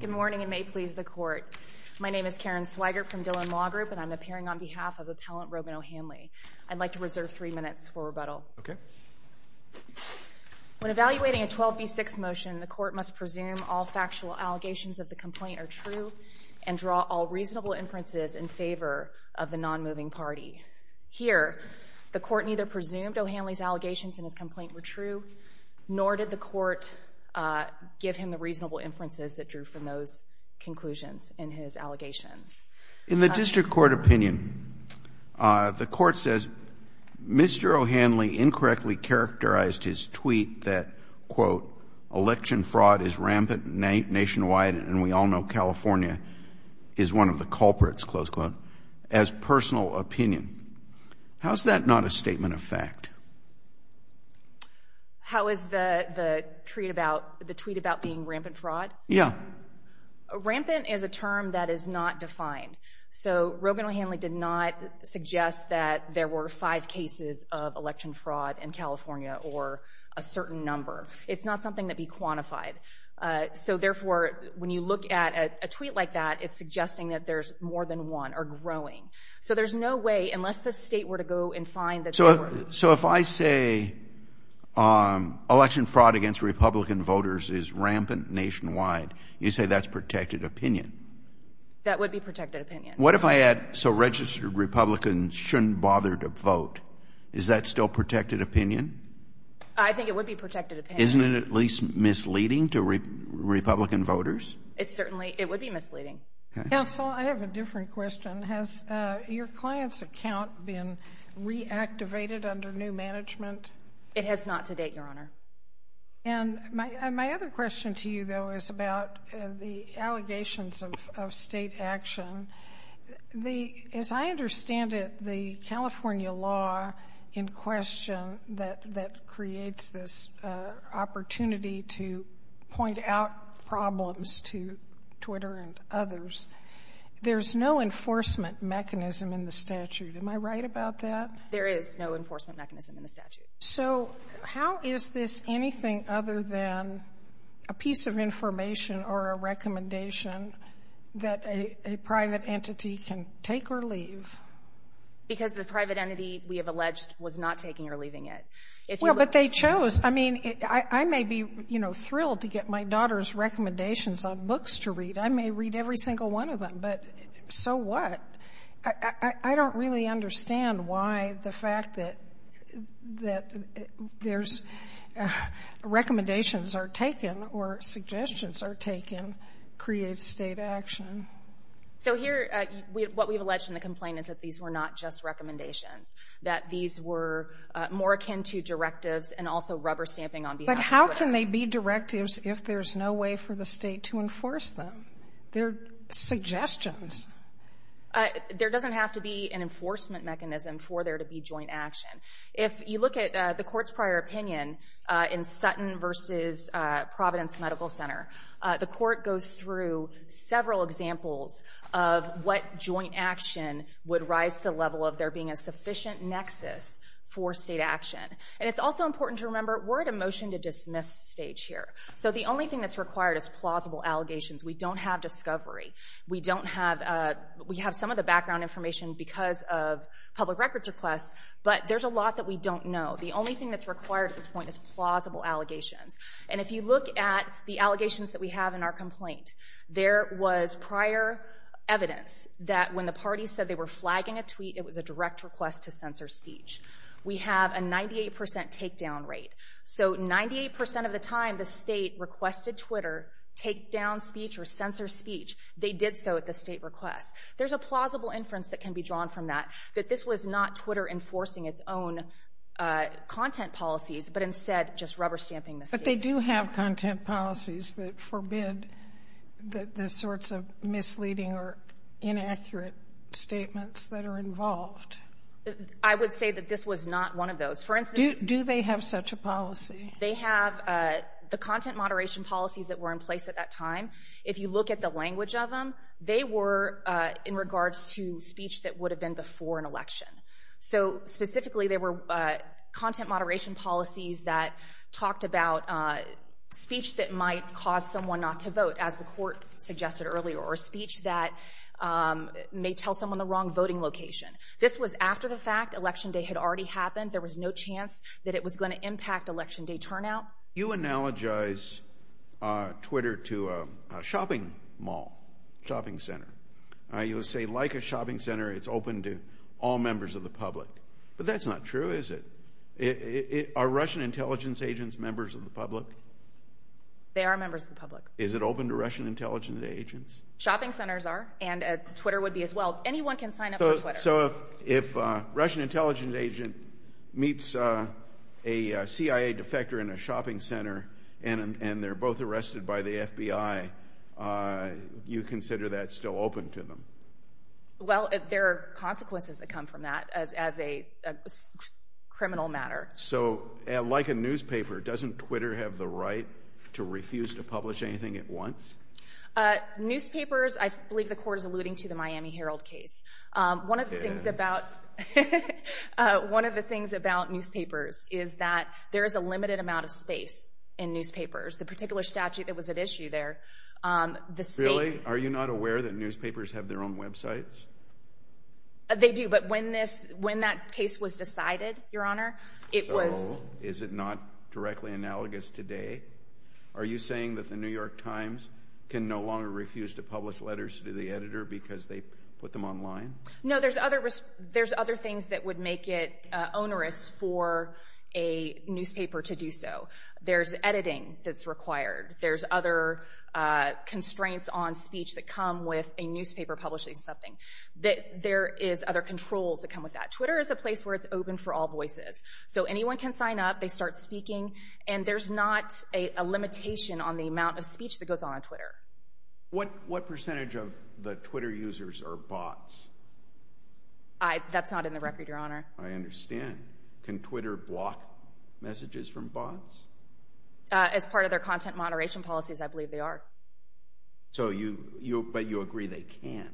Good morning and may it please the court. My name is Karen Swigert from Dillon Law Group and I'm appearing on behalf of Appellant Roban O'Hanley. I'd like to reserve three minutes for rebuttal. When evaluating a 12B6 motion, the court must presume all factual allegations of the complaint are true and draw all reasonable inferences in favor of the non-moving party. Here, the court neither presumed O'Hanley's allegations in his complaint were true, nor did the court give him the reasonable inferences that drew from those conclusions in his allegations. In the district court opinion, the court says Mr. O'Hanley incorrectly characterized his tweet that, quote, election fraud is rampant nationwide and we all know California is one of the culprits, close quote, as personal opinion. How is that not a statement of fact? How is the tweet about being rampant fraud? Yeah. Rampant is a term that is not defined. So Rogan O'Hanley did not suggest that there were five cases of election fraud in California or a certain number. It's not something that'd be quantified. So therefore, when you look at a tweet like that, it's suggesting that there's more than one or growing. So there's no way, unless the state were to go and find that there were... So if I say election fraud against Republican voters is rampant nationwide, you say that's protected opinion? That would be protected opinion. What if I add, so registered Republicans shouldn't bother to vote? Is that still protected opinion? I think it would be protected opinion. Isn't it at least misleading to Republican voters? It certainly, it would be misleading. Counsel, I have a different question. Has your client's account been reactivated under new management? It has not to date, Your Honor. And my other question to you, though, is about the allegations of state action. As I understand it, the California law in question that creates this opportunity to point out problems to Twitter and others, there's no enforcement mechanism in the statute. Am I right about that? There is no enforcement mechanism in the statute. So how is this anything other than a piece of information or a recommendation that a private entity can take or leave? Because the private entity, we have alleged, was not taking or leaving it. Well, but they chose. I mean, I may be, you know, thrilled to get my daughter's recommendations on books to read. I may read every single one of them, but so what? I don't really understand why the fact that there's recommendations are taken or suggestions are taken creates state action. So here, what we've alleged in the complaint is that these were not just recommendations, that these were more akin to directives and also rubber stamping on behalf of Twitter. But how can they be directives if there's no way for the State to enforce them? They're suggestions. There doesn't have to be an enforcement mechanism for there to be joint action. If you look at the court's prior opinion in Sutton v. Providence Medical Center, the court goes through several examples of what joint action would rise to the level of there being a sufficient nexus for state action. And it's also important to remember, we're at a motion to dismiss stage here. So the only thing that's required is plausible allegations. We don't have discovery. We have some of the background information because of public records requests, but there's a lot that we don't know. The only thing that's required at this point is plausible allegations. And if you look at the allegations that we have in our complaint, there was prior evidence that when the parties said they were flagging a tweet, it was a direct request to censor speech. We have a 98% takedown rate. So 98% of the time, the State requested Twitter takedown speech or censor speech. They did so at the State request. There's a plausible inference that can be drawn from that, that this was not Twitter enforcing its own content policies, but instead just rubber stamping the State. But they do have content policies that forbid the sorts of misleading or inaccurate statements that are involved. I would say that this was not one of those. Do they have such a policy? They have the content moderation policies that were in place at that time. If you look at the language of them, they were in regards to speech that would have been before an election. So specifically, there were content moderation policies that talked about speech that might cause someone not to vote, as the court suggested earlier, or speech that may tell someone the wrong voting location. This was after the fact. Election day had already happened. There was no chance that it was going to impact election day turnout. You analogize Twitter to a shopping mall, shopping center. You say, like a shopping center, it's open to all members of the public. But that's not true, is it? Are Russian intelligence agents members of the public? They are members of the public. Is it open to Russian intelligence agents? Shopping centers are, and Twitter would be as well. Anyone can sign up on Twitter. So if a Russian intelligence agent meets a CIA defector in a shopping center and they're both arrested by the FBI, you consider that still open to them? Well, there are consequences that come from that as a criminal matter. So like a newspaper, doesn't Twitter have the right to refuse to publish anything at once? Newspapers, I believe the court is alluding to the Miami Herald case. One of the things about newspapers is that there is a limited amount of space in newspapers. The particular statute that was at issue there, the state— Really? Are you not aware that newspapers have their own websites? They do, but when that case was decided, Your Honor, it was— So is it not directly analogous today? Are you saying that the New York Times can no longer refuse to publish letters to the editor because they put them online? No, there's other things that would make it onerous for a newspaper to do so. There's editing that's required. There's other constraints on speech that come with a newspaper publishing something. There is other controls that come with that. Twitter is a place where it's open for all voices. So anyone can sign up. They start speaking, and there's not a limitation on the amount of speech that goes on on Twitter. What percentage of the Twitter users are bots? That's not in the record, Your Honor. I understand. Can Twitter block messages from bots? As part of their content moderation policies, I believe they are. But you agree they can.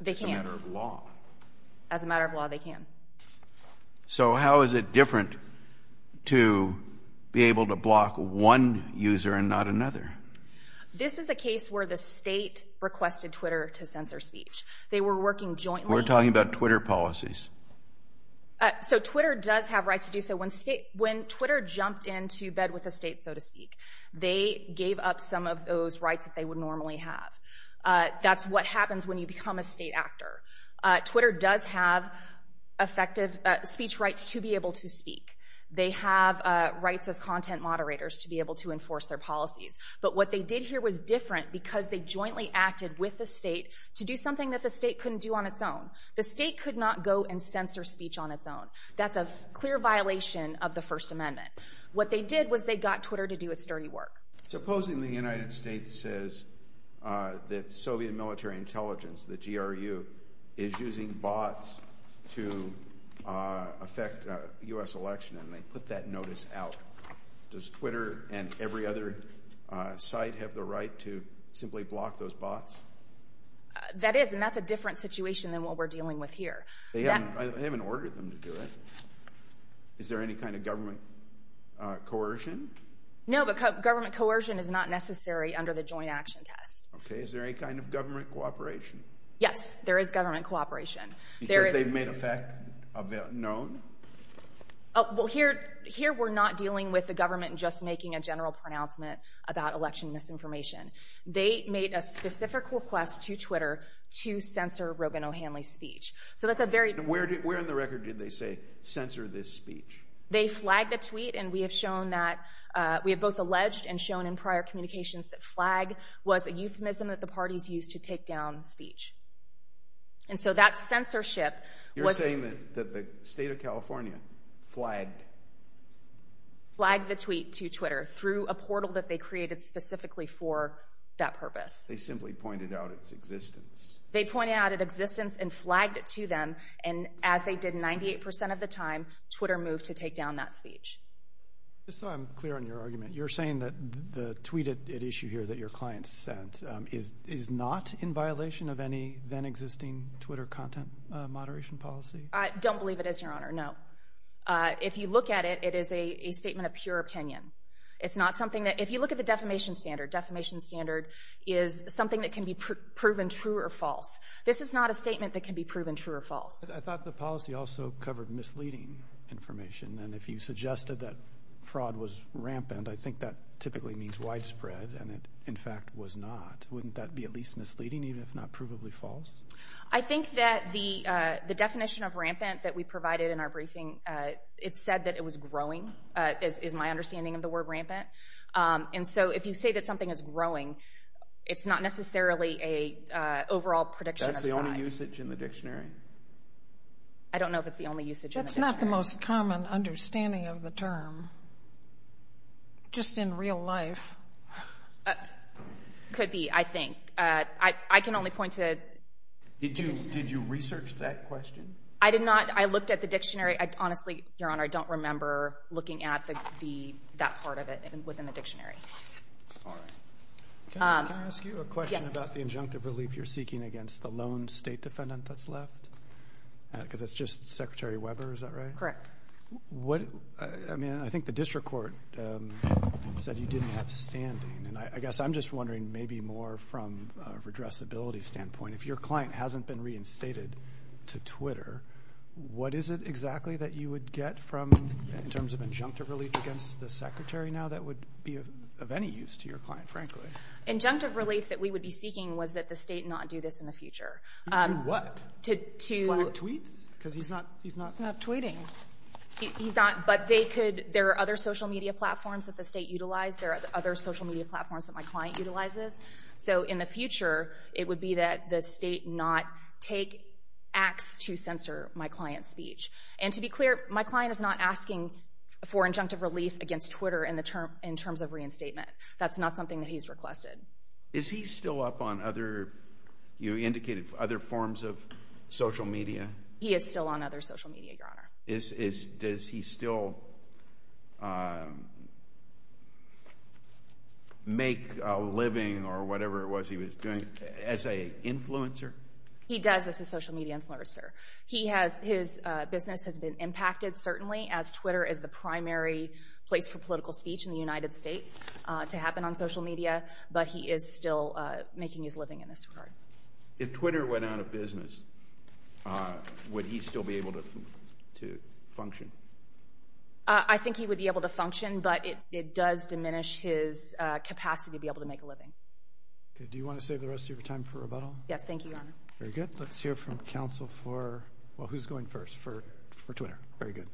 They can. As a matter of law. As a matter of law, they can. So how is it different to be able to block one user and not another? This is a case where the state requested Twitter to censor speech. They were working jointly. We're talking about Twitter policies. So Twitter does have rights to do so. When Twitter jumped into bed with the state, so to speak, they gave up some of those rights that they would normally have. That's what happens when you become a state actor. Twitter does have speech rights to be able to speak. They have rights as content moderators to be able to enforce their policies. But what they did here was different because they jointly acted with the state to do something that the state couldn't do on its own. The state could not go and censor speech on its own. That's a clear violation of the First Amendment. What they did was they got Twitter to do its dirty work. Supposing the United States says that Soviet military intelligence, the GRU, is using bots to affect U.S. election and they put that notice out. Does Twitter and every other site have the right to simply block those bots? That is, and that's a different situation than what we're dealing with here. They haven't ordered them to do it. Is there any kind of government coercion? No, but government coercion is not necessary under the joint action test. Okay, is there any kind of government cooperation? Yes, there is government cooperation. Because they've made a fact known? Well, here we're not dealing with the government just making a general pronouncement about election misinformation. They made a specific request to Twitter to censor Rogan O'Hanley's speech. Where on the record did they say, censor this speech? They flagged the tweet and we have shown that, we have both alleged and shown in prior communications that flag was a euphemism that the parties used to take down speech. And so that censorship was... You're saying that the state of California flagged? Flagged the tweet to Twitter through a portal that they created specifically for that purpose. They simply pointed out its existence. They pointed out its existence and flagged it to them. And as they did 98% of the time, Twitter moved to take down that speech. Just so I'm clear on your argument, you're saying that the tweet at issue here that your client sent is not in violation of any then existing Twitter content moderation policy? I don't believe it is, Your Honor, no. If you look at it, it is a statement of pure opinion. It's not something that... If you look at the defamation standard, defamation standard is something that can be proven true or false. This is not a statement that can be proven true or false. I thought the policy also covered misleading information. And if you suggested that fraud was rampant, I think that typically means widespread. And it, in fact, was not. Wouldn't that be at least misleading, even if not provably false? I think that the definition of rampant that we provided in our briefing, it said that it was growing, is my understanding of the word rampant. And so if you say that something is growing, it's not necessarily an overall prediction of size. Is that the only usage in the dictionary? I don't know if it's the only usage in the dictionary. That's not the most common understanding of the term, just in real life. Could be, I think. I can only point to... Did you research that question? I did not. I looked at the dictionary. Honestly, Your Honor, I don't remember looking at that part of it within the dictionary. All right. Can I ask you a question about the injunctive relief you're seeking against the lone State defendant that's left? Because it's just Secretary Weber, is that right? Correct. I mean, I think the district court said you didn't have standing. And I guess I'm just wondering maybe more from a redressability standpoint. If your client hasn't been reinstated to Twitter, what is it exactly that you would get from, in terms of injunctive relief against the Secretary now that would be of any use to your client, frankly? Injunctive relief that we would be seeking was that the State not do this in the future. Do what? To... Flag tweets? Because he's not... He's not tweeting. He's not. But they could. There are other social media platforms that the State utilized. There are other social media platforms that my client utilizes. So in the future, it would be that the State not take acts to censor my client's speech. And to be clear, my client is not asking for injunctive relief against Twitter in terms of reinstatement. That's not something that he's requested. Is he still up on other, you indicated, other forms of social media? He is still on other social media, Your Honor. Does he still make a living or whatever it was he was doing as an influencer? He does as a social media influencer. His business has been impacted, certainly, as Twitter is the primary place for political speech in the United States to happen on social media, but he is still making his living in this regard. If Twitter went out of business, would he still be able to function? I think he would be able to function, but it does diminish his capacity to be able to make a living. Okay. Do you want to save the rest of your time for rebuttal? Yes. Thank you, Your Honor. Very good. Let's hear from counsel for... Well, who's going first for Twitter? Very good.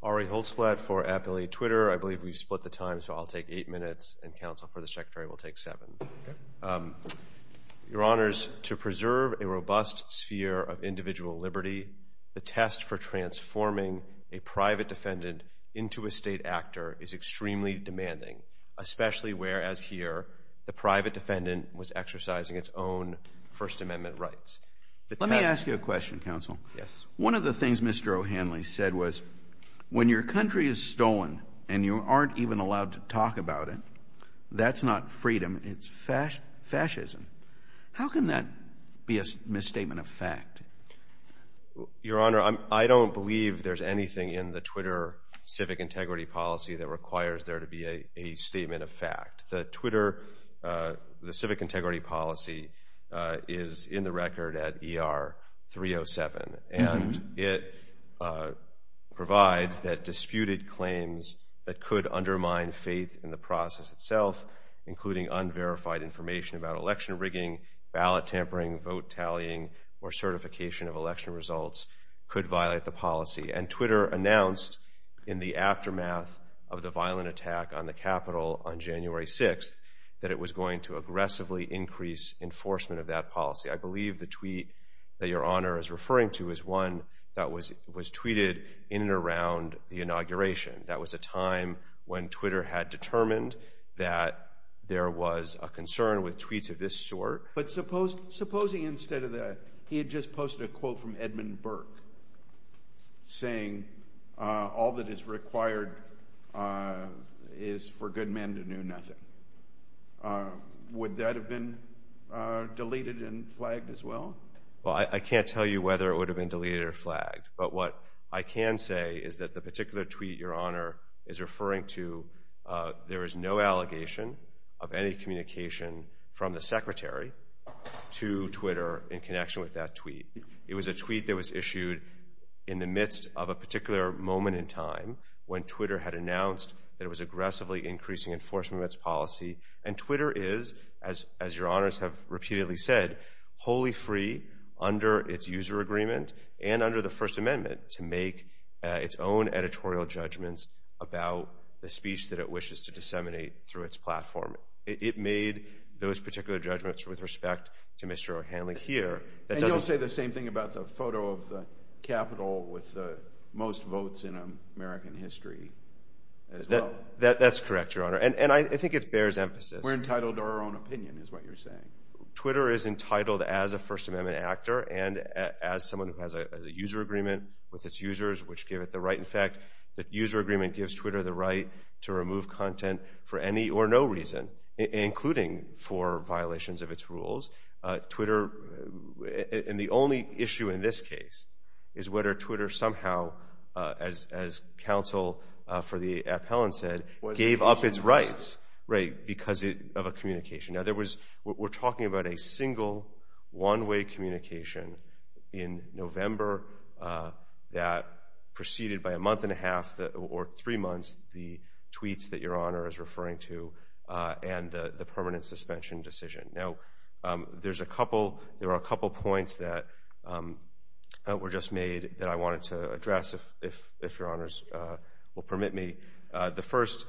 Ari Holzblatt for Appalachia Twitter. I believe we've split the time, so I'll take eight minutes, and counsel for the Secretary will take seven. Okay. Your Honors, to preserve a robust sphere of individual liberty, the test for transforming a private defendant into a state actor is extremely demanding, especially whereas here the private defendant was exercising its own First Amendment rights. Let me ask you a question, counsel. Yes. One of the things Mr. O'Hanley said was when your country is stolen and you aren't even allowed to talk about it, that's not freedom, it's fascism. How can that be a misstatement of fact? Your Honor, I don't believe there's anything in the Twitter civic integrity policy that requires there to be a statement of fact. The Twitter civic integrity policy is in the record at ER 307, and it provides that disputed claims that could undermine faith in the process itself, including unverified information about election rigging, ballot tampering, vote tallying, or certification of election results, could violate the policy. And Twitter announced in the aftermath of the violent attack on the Capitol on January 6th that it was going to aggressively increase enforcement of that policy. I believe the tweet that your Honor is referring to is one that was tweeted in and around the inauguration. That was a time when Twitter had determined that there was a concern with tweets of this sort. But supposing instead of that, he had just posted a quote from Edmund Burke, saying all that is required is for good men to do nothing. Would that have been deleted and flagged as well? Well, I can't tell you whether it would have been deleted or flagged, but what I can say is that the particular tweet your Honor is referring to, there is no allegation of any communication from the Secretary to Twitter in connection with that tweet. It was a tweet that was issued in the midst of a particular moment in time when Twitter had announced that it was aggressively increasing enforcement of its policy. And Twitter is, as your Honors have repeatedly said, wholly free under its user agreement and under the First Amendment to make its own editorial judgments about the speech that it wishes to disseminate through its platform. It made those particular judgments with respect to Mr. O'Hanley here. And you'll say the same thing about the photo of the Capitol with the most votes in American history as well. That's correct, your Honor, and I think it bears emphasis. Twitter is entitled as a First Amendment actor and as someone who has a user agreement with its users, which give it the right. In fact, the user agreement gives Twitter the right to remove content for any or no reason, including for violations of its rules. Twitter, and the only issue in this case is whether Twitter somehow, as counsel for the appellant said, gave up its rights because of a communication. Now, we're talking about a single one-way communication in November that preceded by a month and a half or three months the tweets that your Honor is referring to and the permanent suspension decision. Now, there are a couple points that were just made that I wanted to address, if your Honors will permit me. The first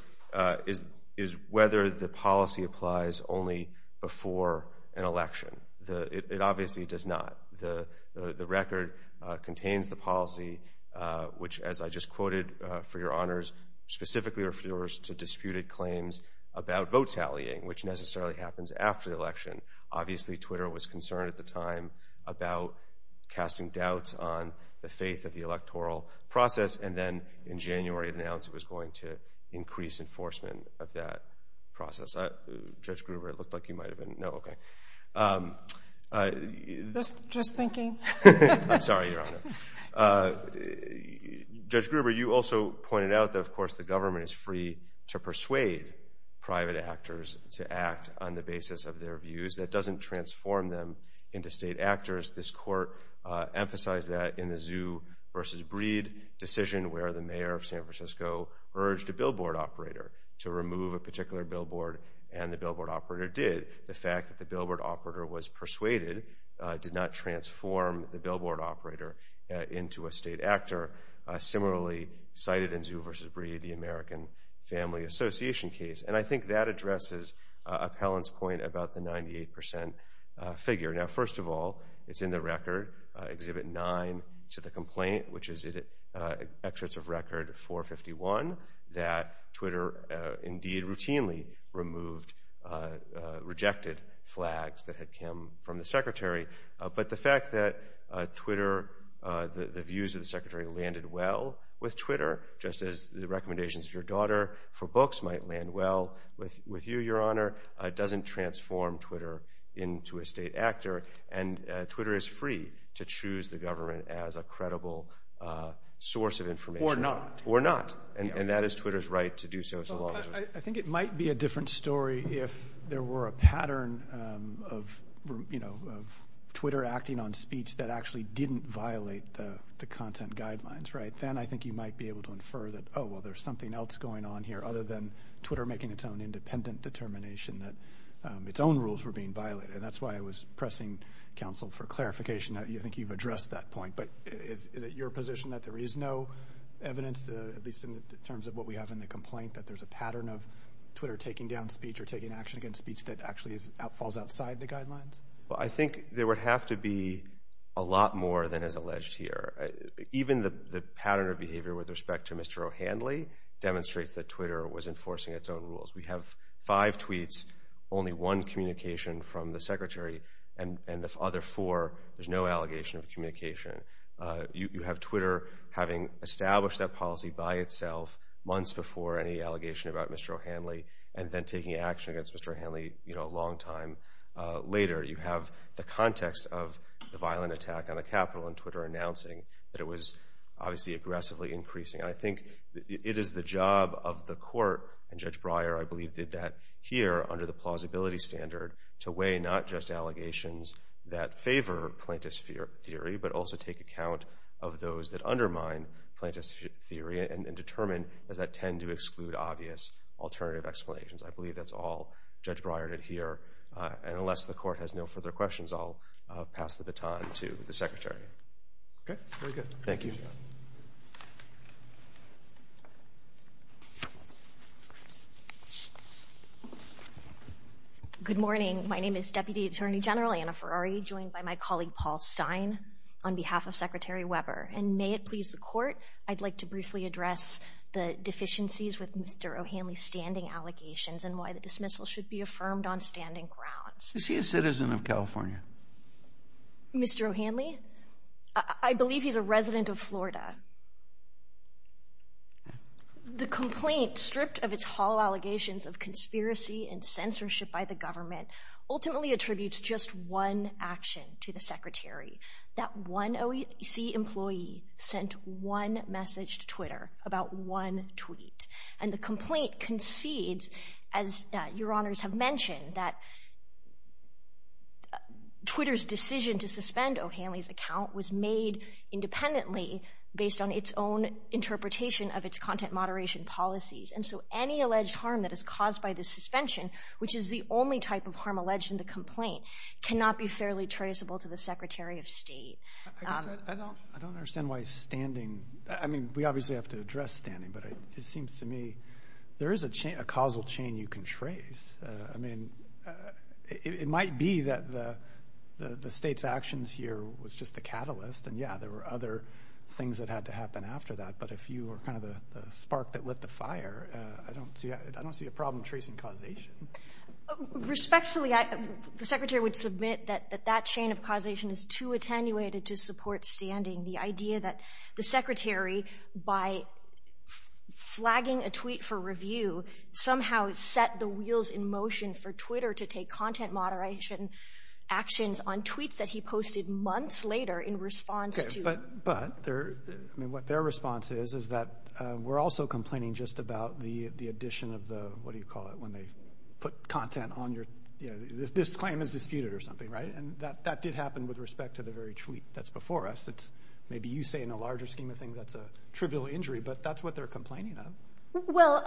is whether the policy applies only before an election. It obviously does not. The record contains the policy, which, as I just quoted for your Honors, specifically refers to disputed claims about vote tallying, which necessarily happens after the election. Obviously, Twitter was concerned at the time about casting doubts on the faith of the electoral process, and then in January it announced it was going to increase enforcement of that process. Judge Gruber, it looked like you might have been, no, okay. Just thinking. I'm sorry, your Honor. Judge Gruber, you also pointed out that, of course, the government is free to persuade private actors to act on the basis of their views. That doesn't transform them into state actors. This Court emphasized that in the Zoo v. Breed decision, where the mayor of San Francisco urged a billboard operator to remove a particular billboard, and the billboard operator did. The fact that the billboard operator was persuaded did not transform the billboard operator into a state actor. Similarly cited in Zoo v. Breed, the American Family Association case, and I think that addresses Appellant's point about the 98 percent figure. Now, first of all, it's in the record, Exhibit 9, to the complaint, which is Excerpts of Record 451, that Twitter indeed routinely removed rejected flags that had come from the Secretary. But the fact that Twitter, the views of the Secretary landed well with Twitter, just as the recommendations of your daughter for books might land well with you, your Honor, doesn't transform Twitter into a state actor, and Twitter is free to choose the government as a credible source of information. Or not. Or not, and that is Twitter's right to do so. I think it might be a different story if there were a pattern of Twitter acting on speech that actually didn't violate the content guidelines, right? Then I think you might be able to infer that, oh, well, there's something else going on here other than Twitter making its own independent determination that its own rules were being violated. And that's why I was pressing counsel for clarification. I think you've addressed that point. But is it your position that there is no evidence, at least in terms of what we have in the complaint, that there's a pattern of Twitter taking down speech or taking action against speech that actually falls outside the guidelines? Well, I think there would have to be a lot more than is alleged here. Even the pattern of behavior with respect to Mr. O'Hanley demonstrates that Twitter was enforcing its own rules. We have five tweets, only one communication from the Secretary, and the other four there's no allegation of communication. You have Twitter having established that policy by itself months before any allegation about Mr. O'Hanley and then taking action against Mr. O'Hanley a long time later. You have the context of the violent attack on the Capitol and Twitter announcing that it was, obviously, aggressively increasing. And I think it is the job of the court, and Judge Breyer, I believe, did that here under the plausibility standard, to weigh not just allegations that favor plaintiff's theory, but also take account of those that undermine plaintiff's theory and determine does that tend to exclude obvious alternative explanations. I believe that's all Judge Breyer did here. And unless the court has no further questions, I'll pass the baton to the Secretary. Okay. Very good. Thank you. Good morning. My name is Deputy Attorney General Anna Ferrari, joined by my colleague Paul Stein, on behalf of Secretary Weber. And may it please the court, I'd like to briefly address the deficiencies with Mr. O'Hanley's standing allegations and why the dismissal should be affirmed on standing grounds. Is he a citizen of California? Mr. O'Hanley? I believe he's a resident of Florida. The complaint, stripped of its hollow allegations of conspiracy and censorship by the government, ultimately attributes just one action to the Secretary. That one OEC employee sent one message to Twitter about one tweet. And the complaint concedes, as Your Honors have mentioned, that Twitter's decision to suspend O'Hanley's account was made independently, based on its own interpretation of its content moderation policies. And so any alleged harm that is caused by this suspension, which is the only type of harm alleged in the complaint, cannot be fairly traceable to the Secretary of State. I don't understand why standing, I mean, we obviously have to address standing, but it seems to me there is a causal chain you can trace. I mean, it might be that the state's actions here was just a catalyst, and, yeah, there were other things that had to happen after that, but if you were kind of the spark that lit the fire, I don't see a problem tracing causation. Respectfully, the Secretary would submit that that chain of causation is too attenuated to support standing. The idea that the Secretary, by flagging a tweet for review, somehow set the wheels in motion for Twitter to take content moderation actions on tweets that he posted months later in response to— But, I mean, what their response is is that we're also complaining just about the addition of the, what do you call it, when they put content on your, you know, this claim is disputed or something, right? And that did happen with respect to the very tweet that's before us. Maybe you say in a larger scheme of things that's a trivial injury, but that's what they're complaining of. Well,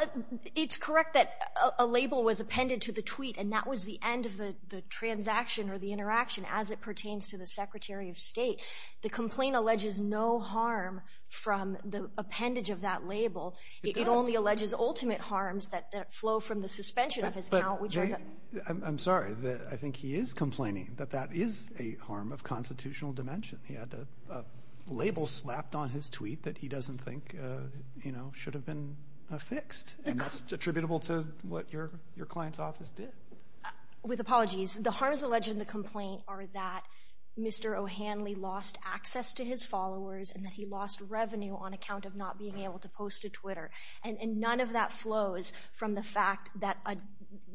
it's correct that a label was appended to the tweet, and that was the end of the transaction or the interaction as it pertains to the Secretary of State. The complaint alleges no harm from the appendage of that label. It does. It only alleges ultimate harms that flow from the suspension of his account, which are the— I'm sorry, I think he is complaining that that is a harm of constitutional dimension. He had a label slapped on his tweet that he doesn't think, you know, should have been fixed. And that's attributable to what your client's office did. With apologies. The harms alleged in the complaint are that Mr. O'Hanley lost access to his followers and that he lost revenue on account of not being able to post to Twitter. And none of that flows from the fact that a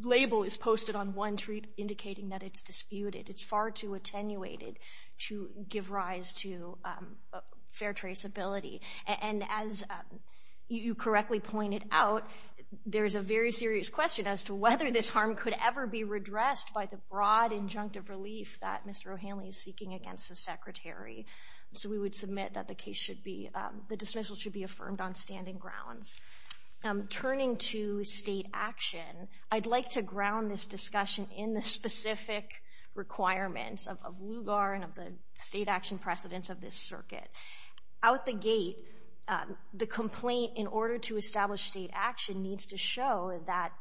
label is posted on one tweet indicating that it's disputed. It's far too attenuated to give rise to fair traceability. And as you correctly pointed out, there's a very serious question as to whether this harm could ever be redressed by the broad injunctive relief that Mr. O'Hanley is seeking against the Secretary. So we would submit that the case should be—the dismissal should be affirmed on standing grounds. Turning to state action, I'd like to ground this discussion in the specific requirements of LUGAR and of the state action precedents of this circuit. Out the gate, the complaint, in order to establish state action, needs to show that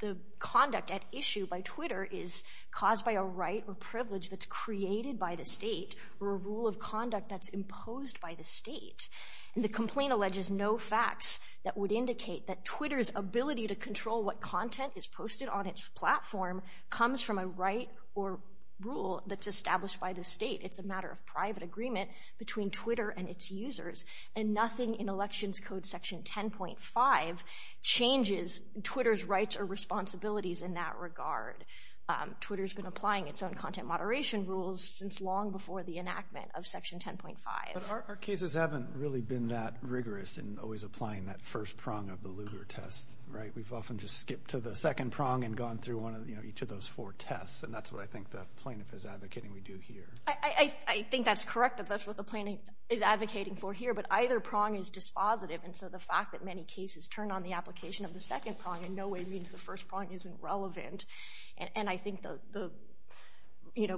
the conduct at issue by Twitter is caused by a right or privilege that's created by the state or a rule of conduct that's imposed by the state. And the complaint alleges no facts that would indicate that Twitter's ability to control what content is posted on its platform comes from a right or rule that's established by the state. It's a matter of private agreement between Twitter and its users. And nothing in Elections Code Section 10.5 changes Twitter's rights or responsibilities in that regard. Twitter's been applying its own content moderation rules since long before the enactment of Section 10.5. But our cases haven't really been that rigorous in always applying that first prong of the LUGAR test, right? We've often just skipped to the second prong and gone through each of those four tests. And that's what I think the plaintiff is advocating we do here. I think that's correct, that that's what the plaintiff is advocating for here. But either prong is dispositive. And so the fact that many cases turn on the application of the second prong in no way means the first prong isn't relevant. And I think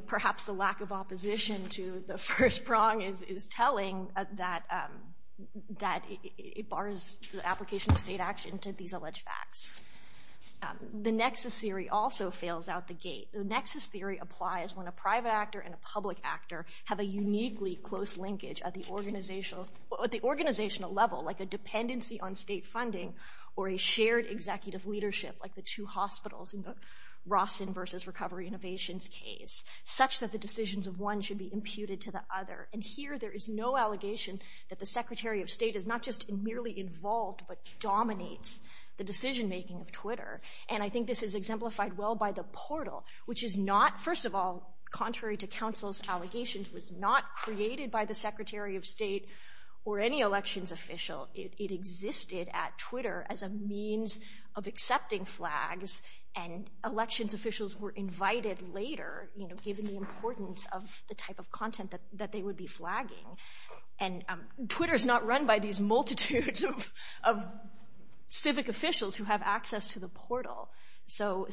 perhaps the lack of opposition to the first prong is telling that it bars the application of state action to these alleged facts. The nexus theory also fails out the gate. The nexus theory applies when a private actor and a public actor have a uniquely close linkage at the organizational level, like a dependency on state funding or a shared executive leadership, like the two hospitals in the Rawson versus Recovery Innovations case, such that the decisions of one should be imputed to the other. And here there is no allegation that the Secretary of State is not just merely involved but dominates the decision-making of Twitter. And I think this is exemplified well by the portal, which is not, first of all, contrary to counsel's allegations, was not created by the Secretary of State or any elections official. It existed at Twitter as a means of accepting flags, and elections officials were invited later, given the importance of the type of content that they would be flagging. And Twitter is not run by these multitudes of civic officials who have access to the portal. So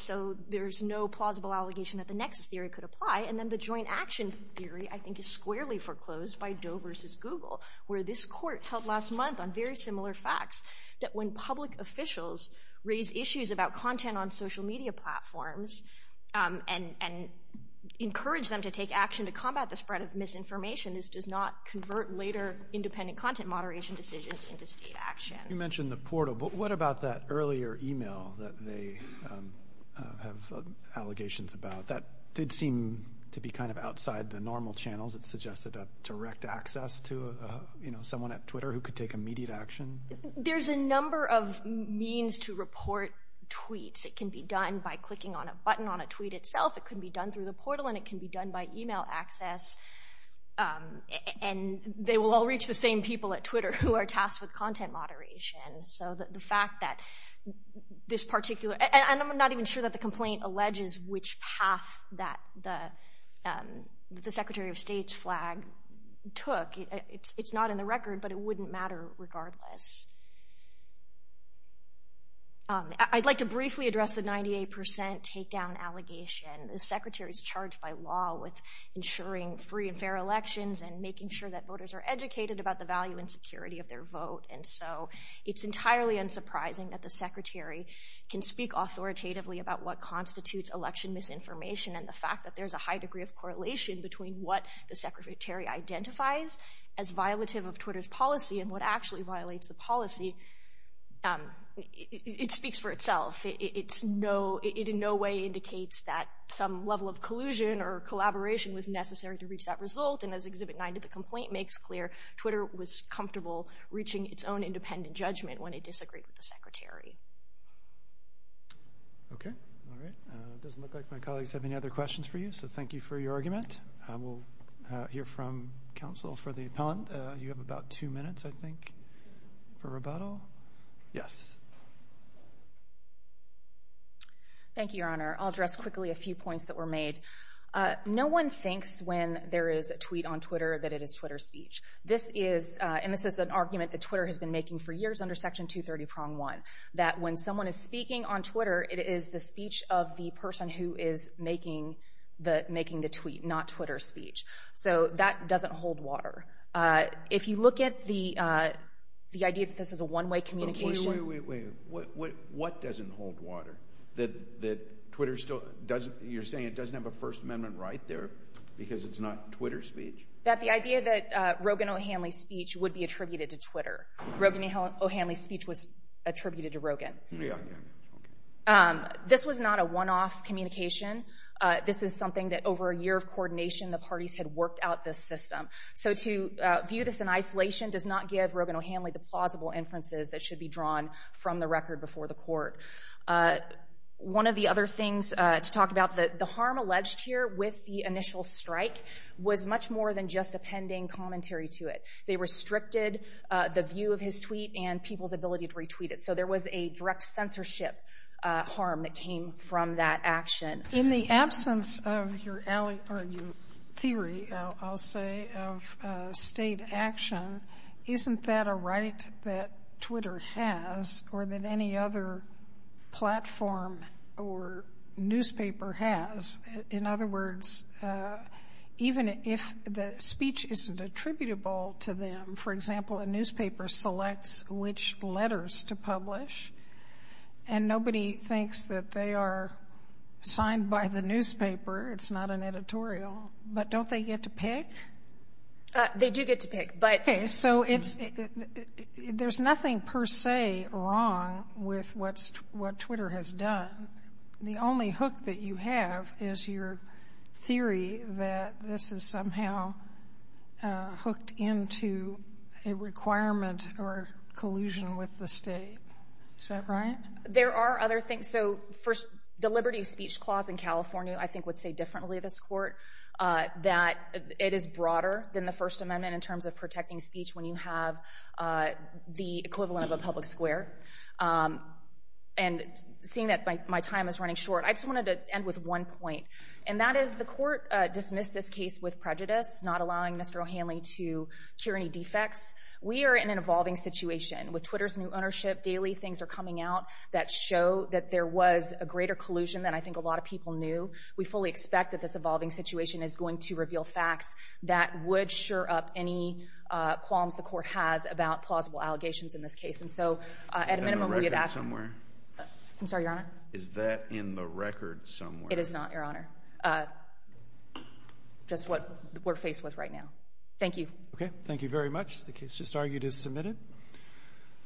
there is no plausible allegation that the nexus theory could apply. And then the joint action theory, I think, is squarely foreclosed by Doe versus Google, where this court held last month on very similar facts, that when public officials raise issues about content on social media platforms and encourage them to take action to combat the spread of misinformation, this does not convert later independent content moderation decisions into state action. You mentioned the portal, but what about that earlier email that they have allegations about? That did seem to be kind of outside the normal channels. It suggested a direct access to someone at Twitter who could take immediate action. There's a number of means to report tweets. It can be done by clicking on a button on a tweet itself. It can be done through the portal, and it can be done by email access. And they will all reach the same people at Twitter who are tasked with content moderation. And I'm not even sure that the complaint alleges which path that the Secretary of State's flag took. It's not in the record, but it wouldn't matter regardless. I'd like to briefly address the 98% takedown allegation. The Secretary is charged by law with ensuring free and fair elections and making sure that voters are educated about the value and security of their vote. And so it's entirely unsurprising that the Secretary can speak authoritatively about what constitutes election misinformation and the fact that there's a high degree of correlation between what the Secretary identifies as violative of Twitter's policy and what actually violates the policy. It speaks for itself. It in no way indicates that some level of collusion or collaboration was necessary to reach that result. And as Exhibit 9 to the complaint makes clear, Twitter was comfortable reaching its own independent judgment when it disagreed with the Secretary. Okay. All right. It doesn't look like my colleagues have any other questions for you, so thank you for your argument. We'll hear from counsel for the appellant. You have about two minutes, I think, for rebuttal. Yes. Thank you, Your Honor. I'll address quickly a few points that were made. No one thinks when there is a tweet on Twitter that it is Twitter's speech. This is an argument that Twitter has been making for years under Section 230, Prong 1, that when someone is speaking on Twitter, it is the speech of the person who is making the tweet, not Twitter's speech. So that doesn't hold water. If you look at the idea that this is a one-way communication. Wait, wait, wait. What doesn't hold water? That Twitter still doesn't, you're saying it doesn't have a First Amendment right there because it's not Twitter's speech? That the idea that Rogan O'Hanley's speech would be attributed to Twitter. Rogan O'Hanley's speech was attributed to Rogan. Yeah, yeah. This was not a one-off communication. This is something that over a year of coordination, the parties had worked out this system. So to view this in isolation does not give Rogan O'Hanley the plausible inferences that should be drawn from the record before the court. One of the other things to talk about, the harm alleged here with the initial strike was much more than just a pending commentary to it. They restricted the view of his tweet and people's ability to retweet it. So there was a direct censorship harm that came from that action. In the absence of your theory, I'll say, of state action, isn't that a right that Twitter has or that any other platform or newspaper has? In other words, even if the speech isn't attributable to them, for example, a newspaper selects which letters to publish and nobody thinks that they are signed by the newspaper, it's not an editorial, but don't they get to pick? They do get to pick. Okay, so there's nothing per se wrong with what Twitter has done. The only hook that you have is your theory that this is somehow hooked into a requirement or collusion with the state. Is that right? There are other things. So the Liberty of Speech Clause in California, I think, would say differently, this court, that it is broader than the First Amendment in terms of protecting speech when you have the equivalent of a public square. And seeing that my time is running short, I just wanted to end with one point, and that is the court dismissed this case with prejudice, not allowing Mr. O'Hanley to cure any defects. We are in an evolving situation. With Twitter's new ownership daily, things are coming out that show that there was a greater collusion than I think a lot of people knew. We fully expect that this evolving situation is going to reveal facts that would sure up any qualms the court has about plausible allegations in this case. And so at a minimum, we would ask— Is that in the record somewhere? I'm sorry, Your Honor? Is that in the record somewhere? It is not, Your Honor. Just what we're faced with right now. Thank you. Okay, thank you very much. The case just argued is submitted.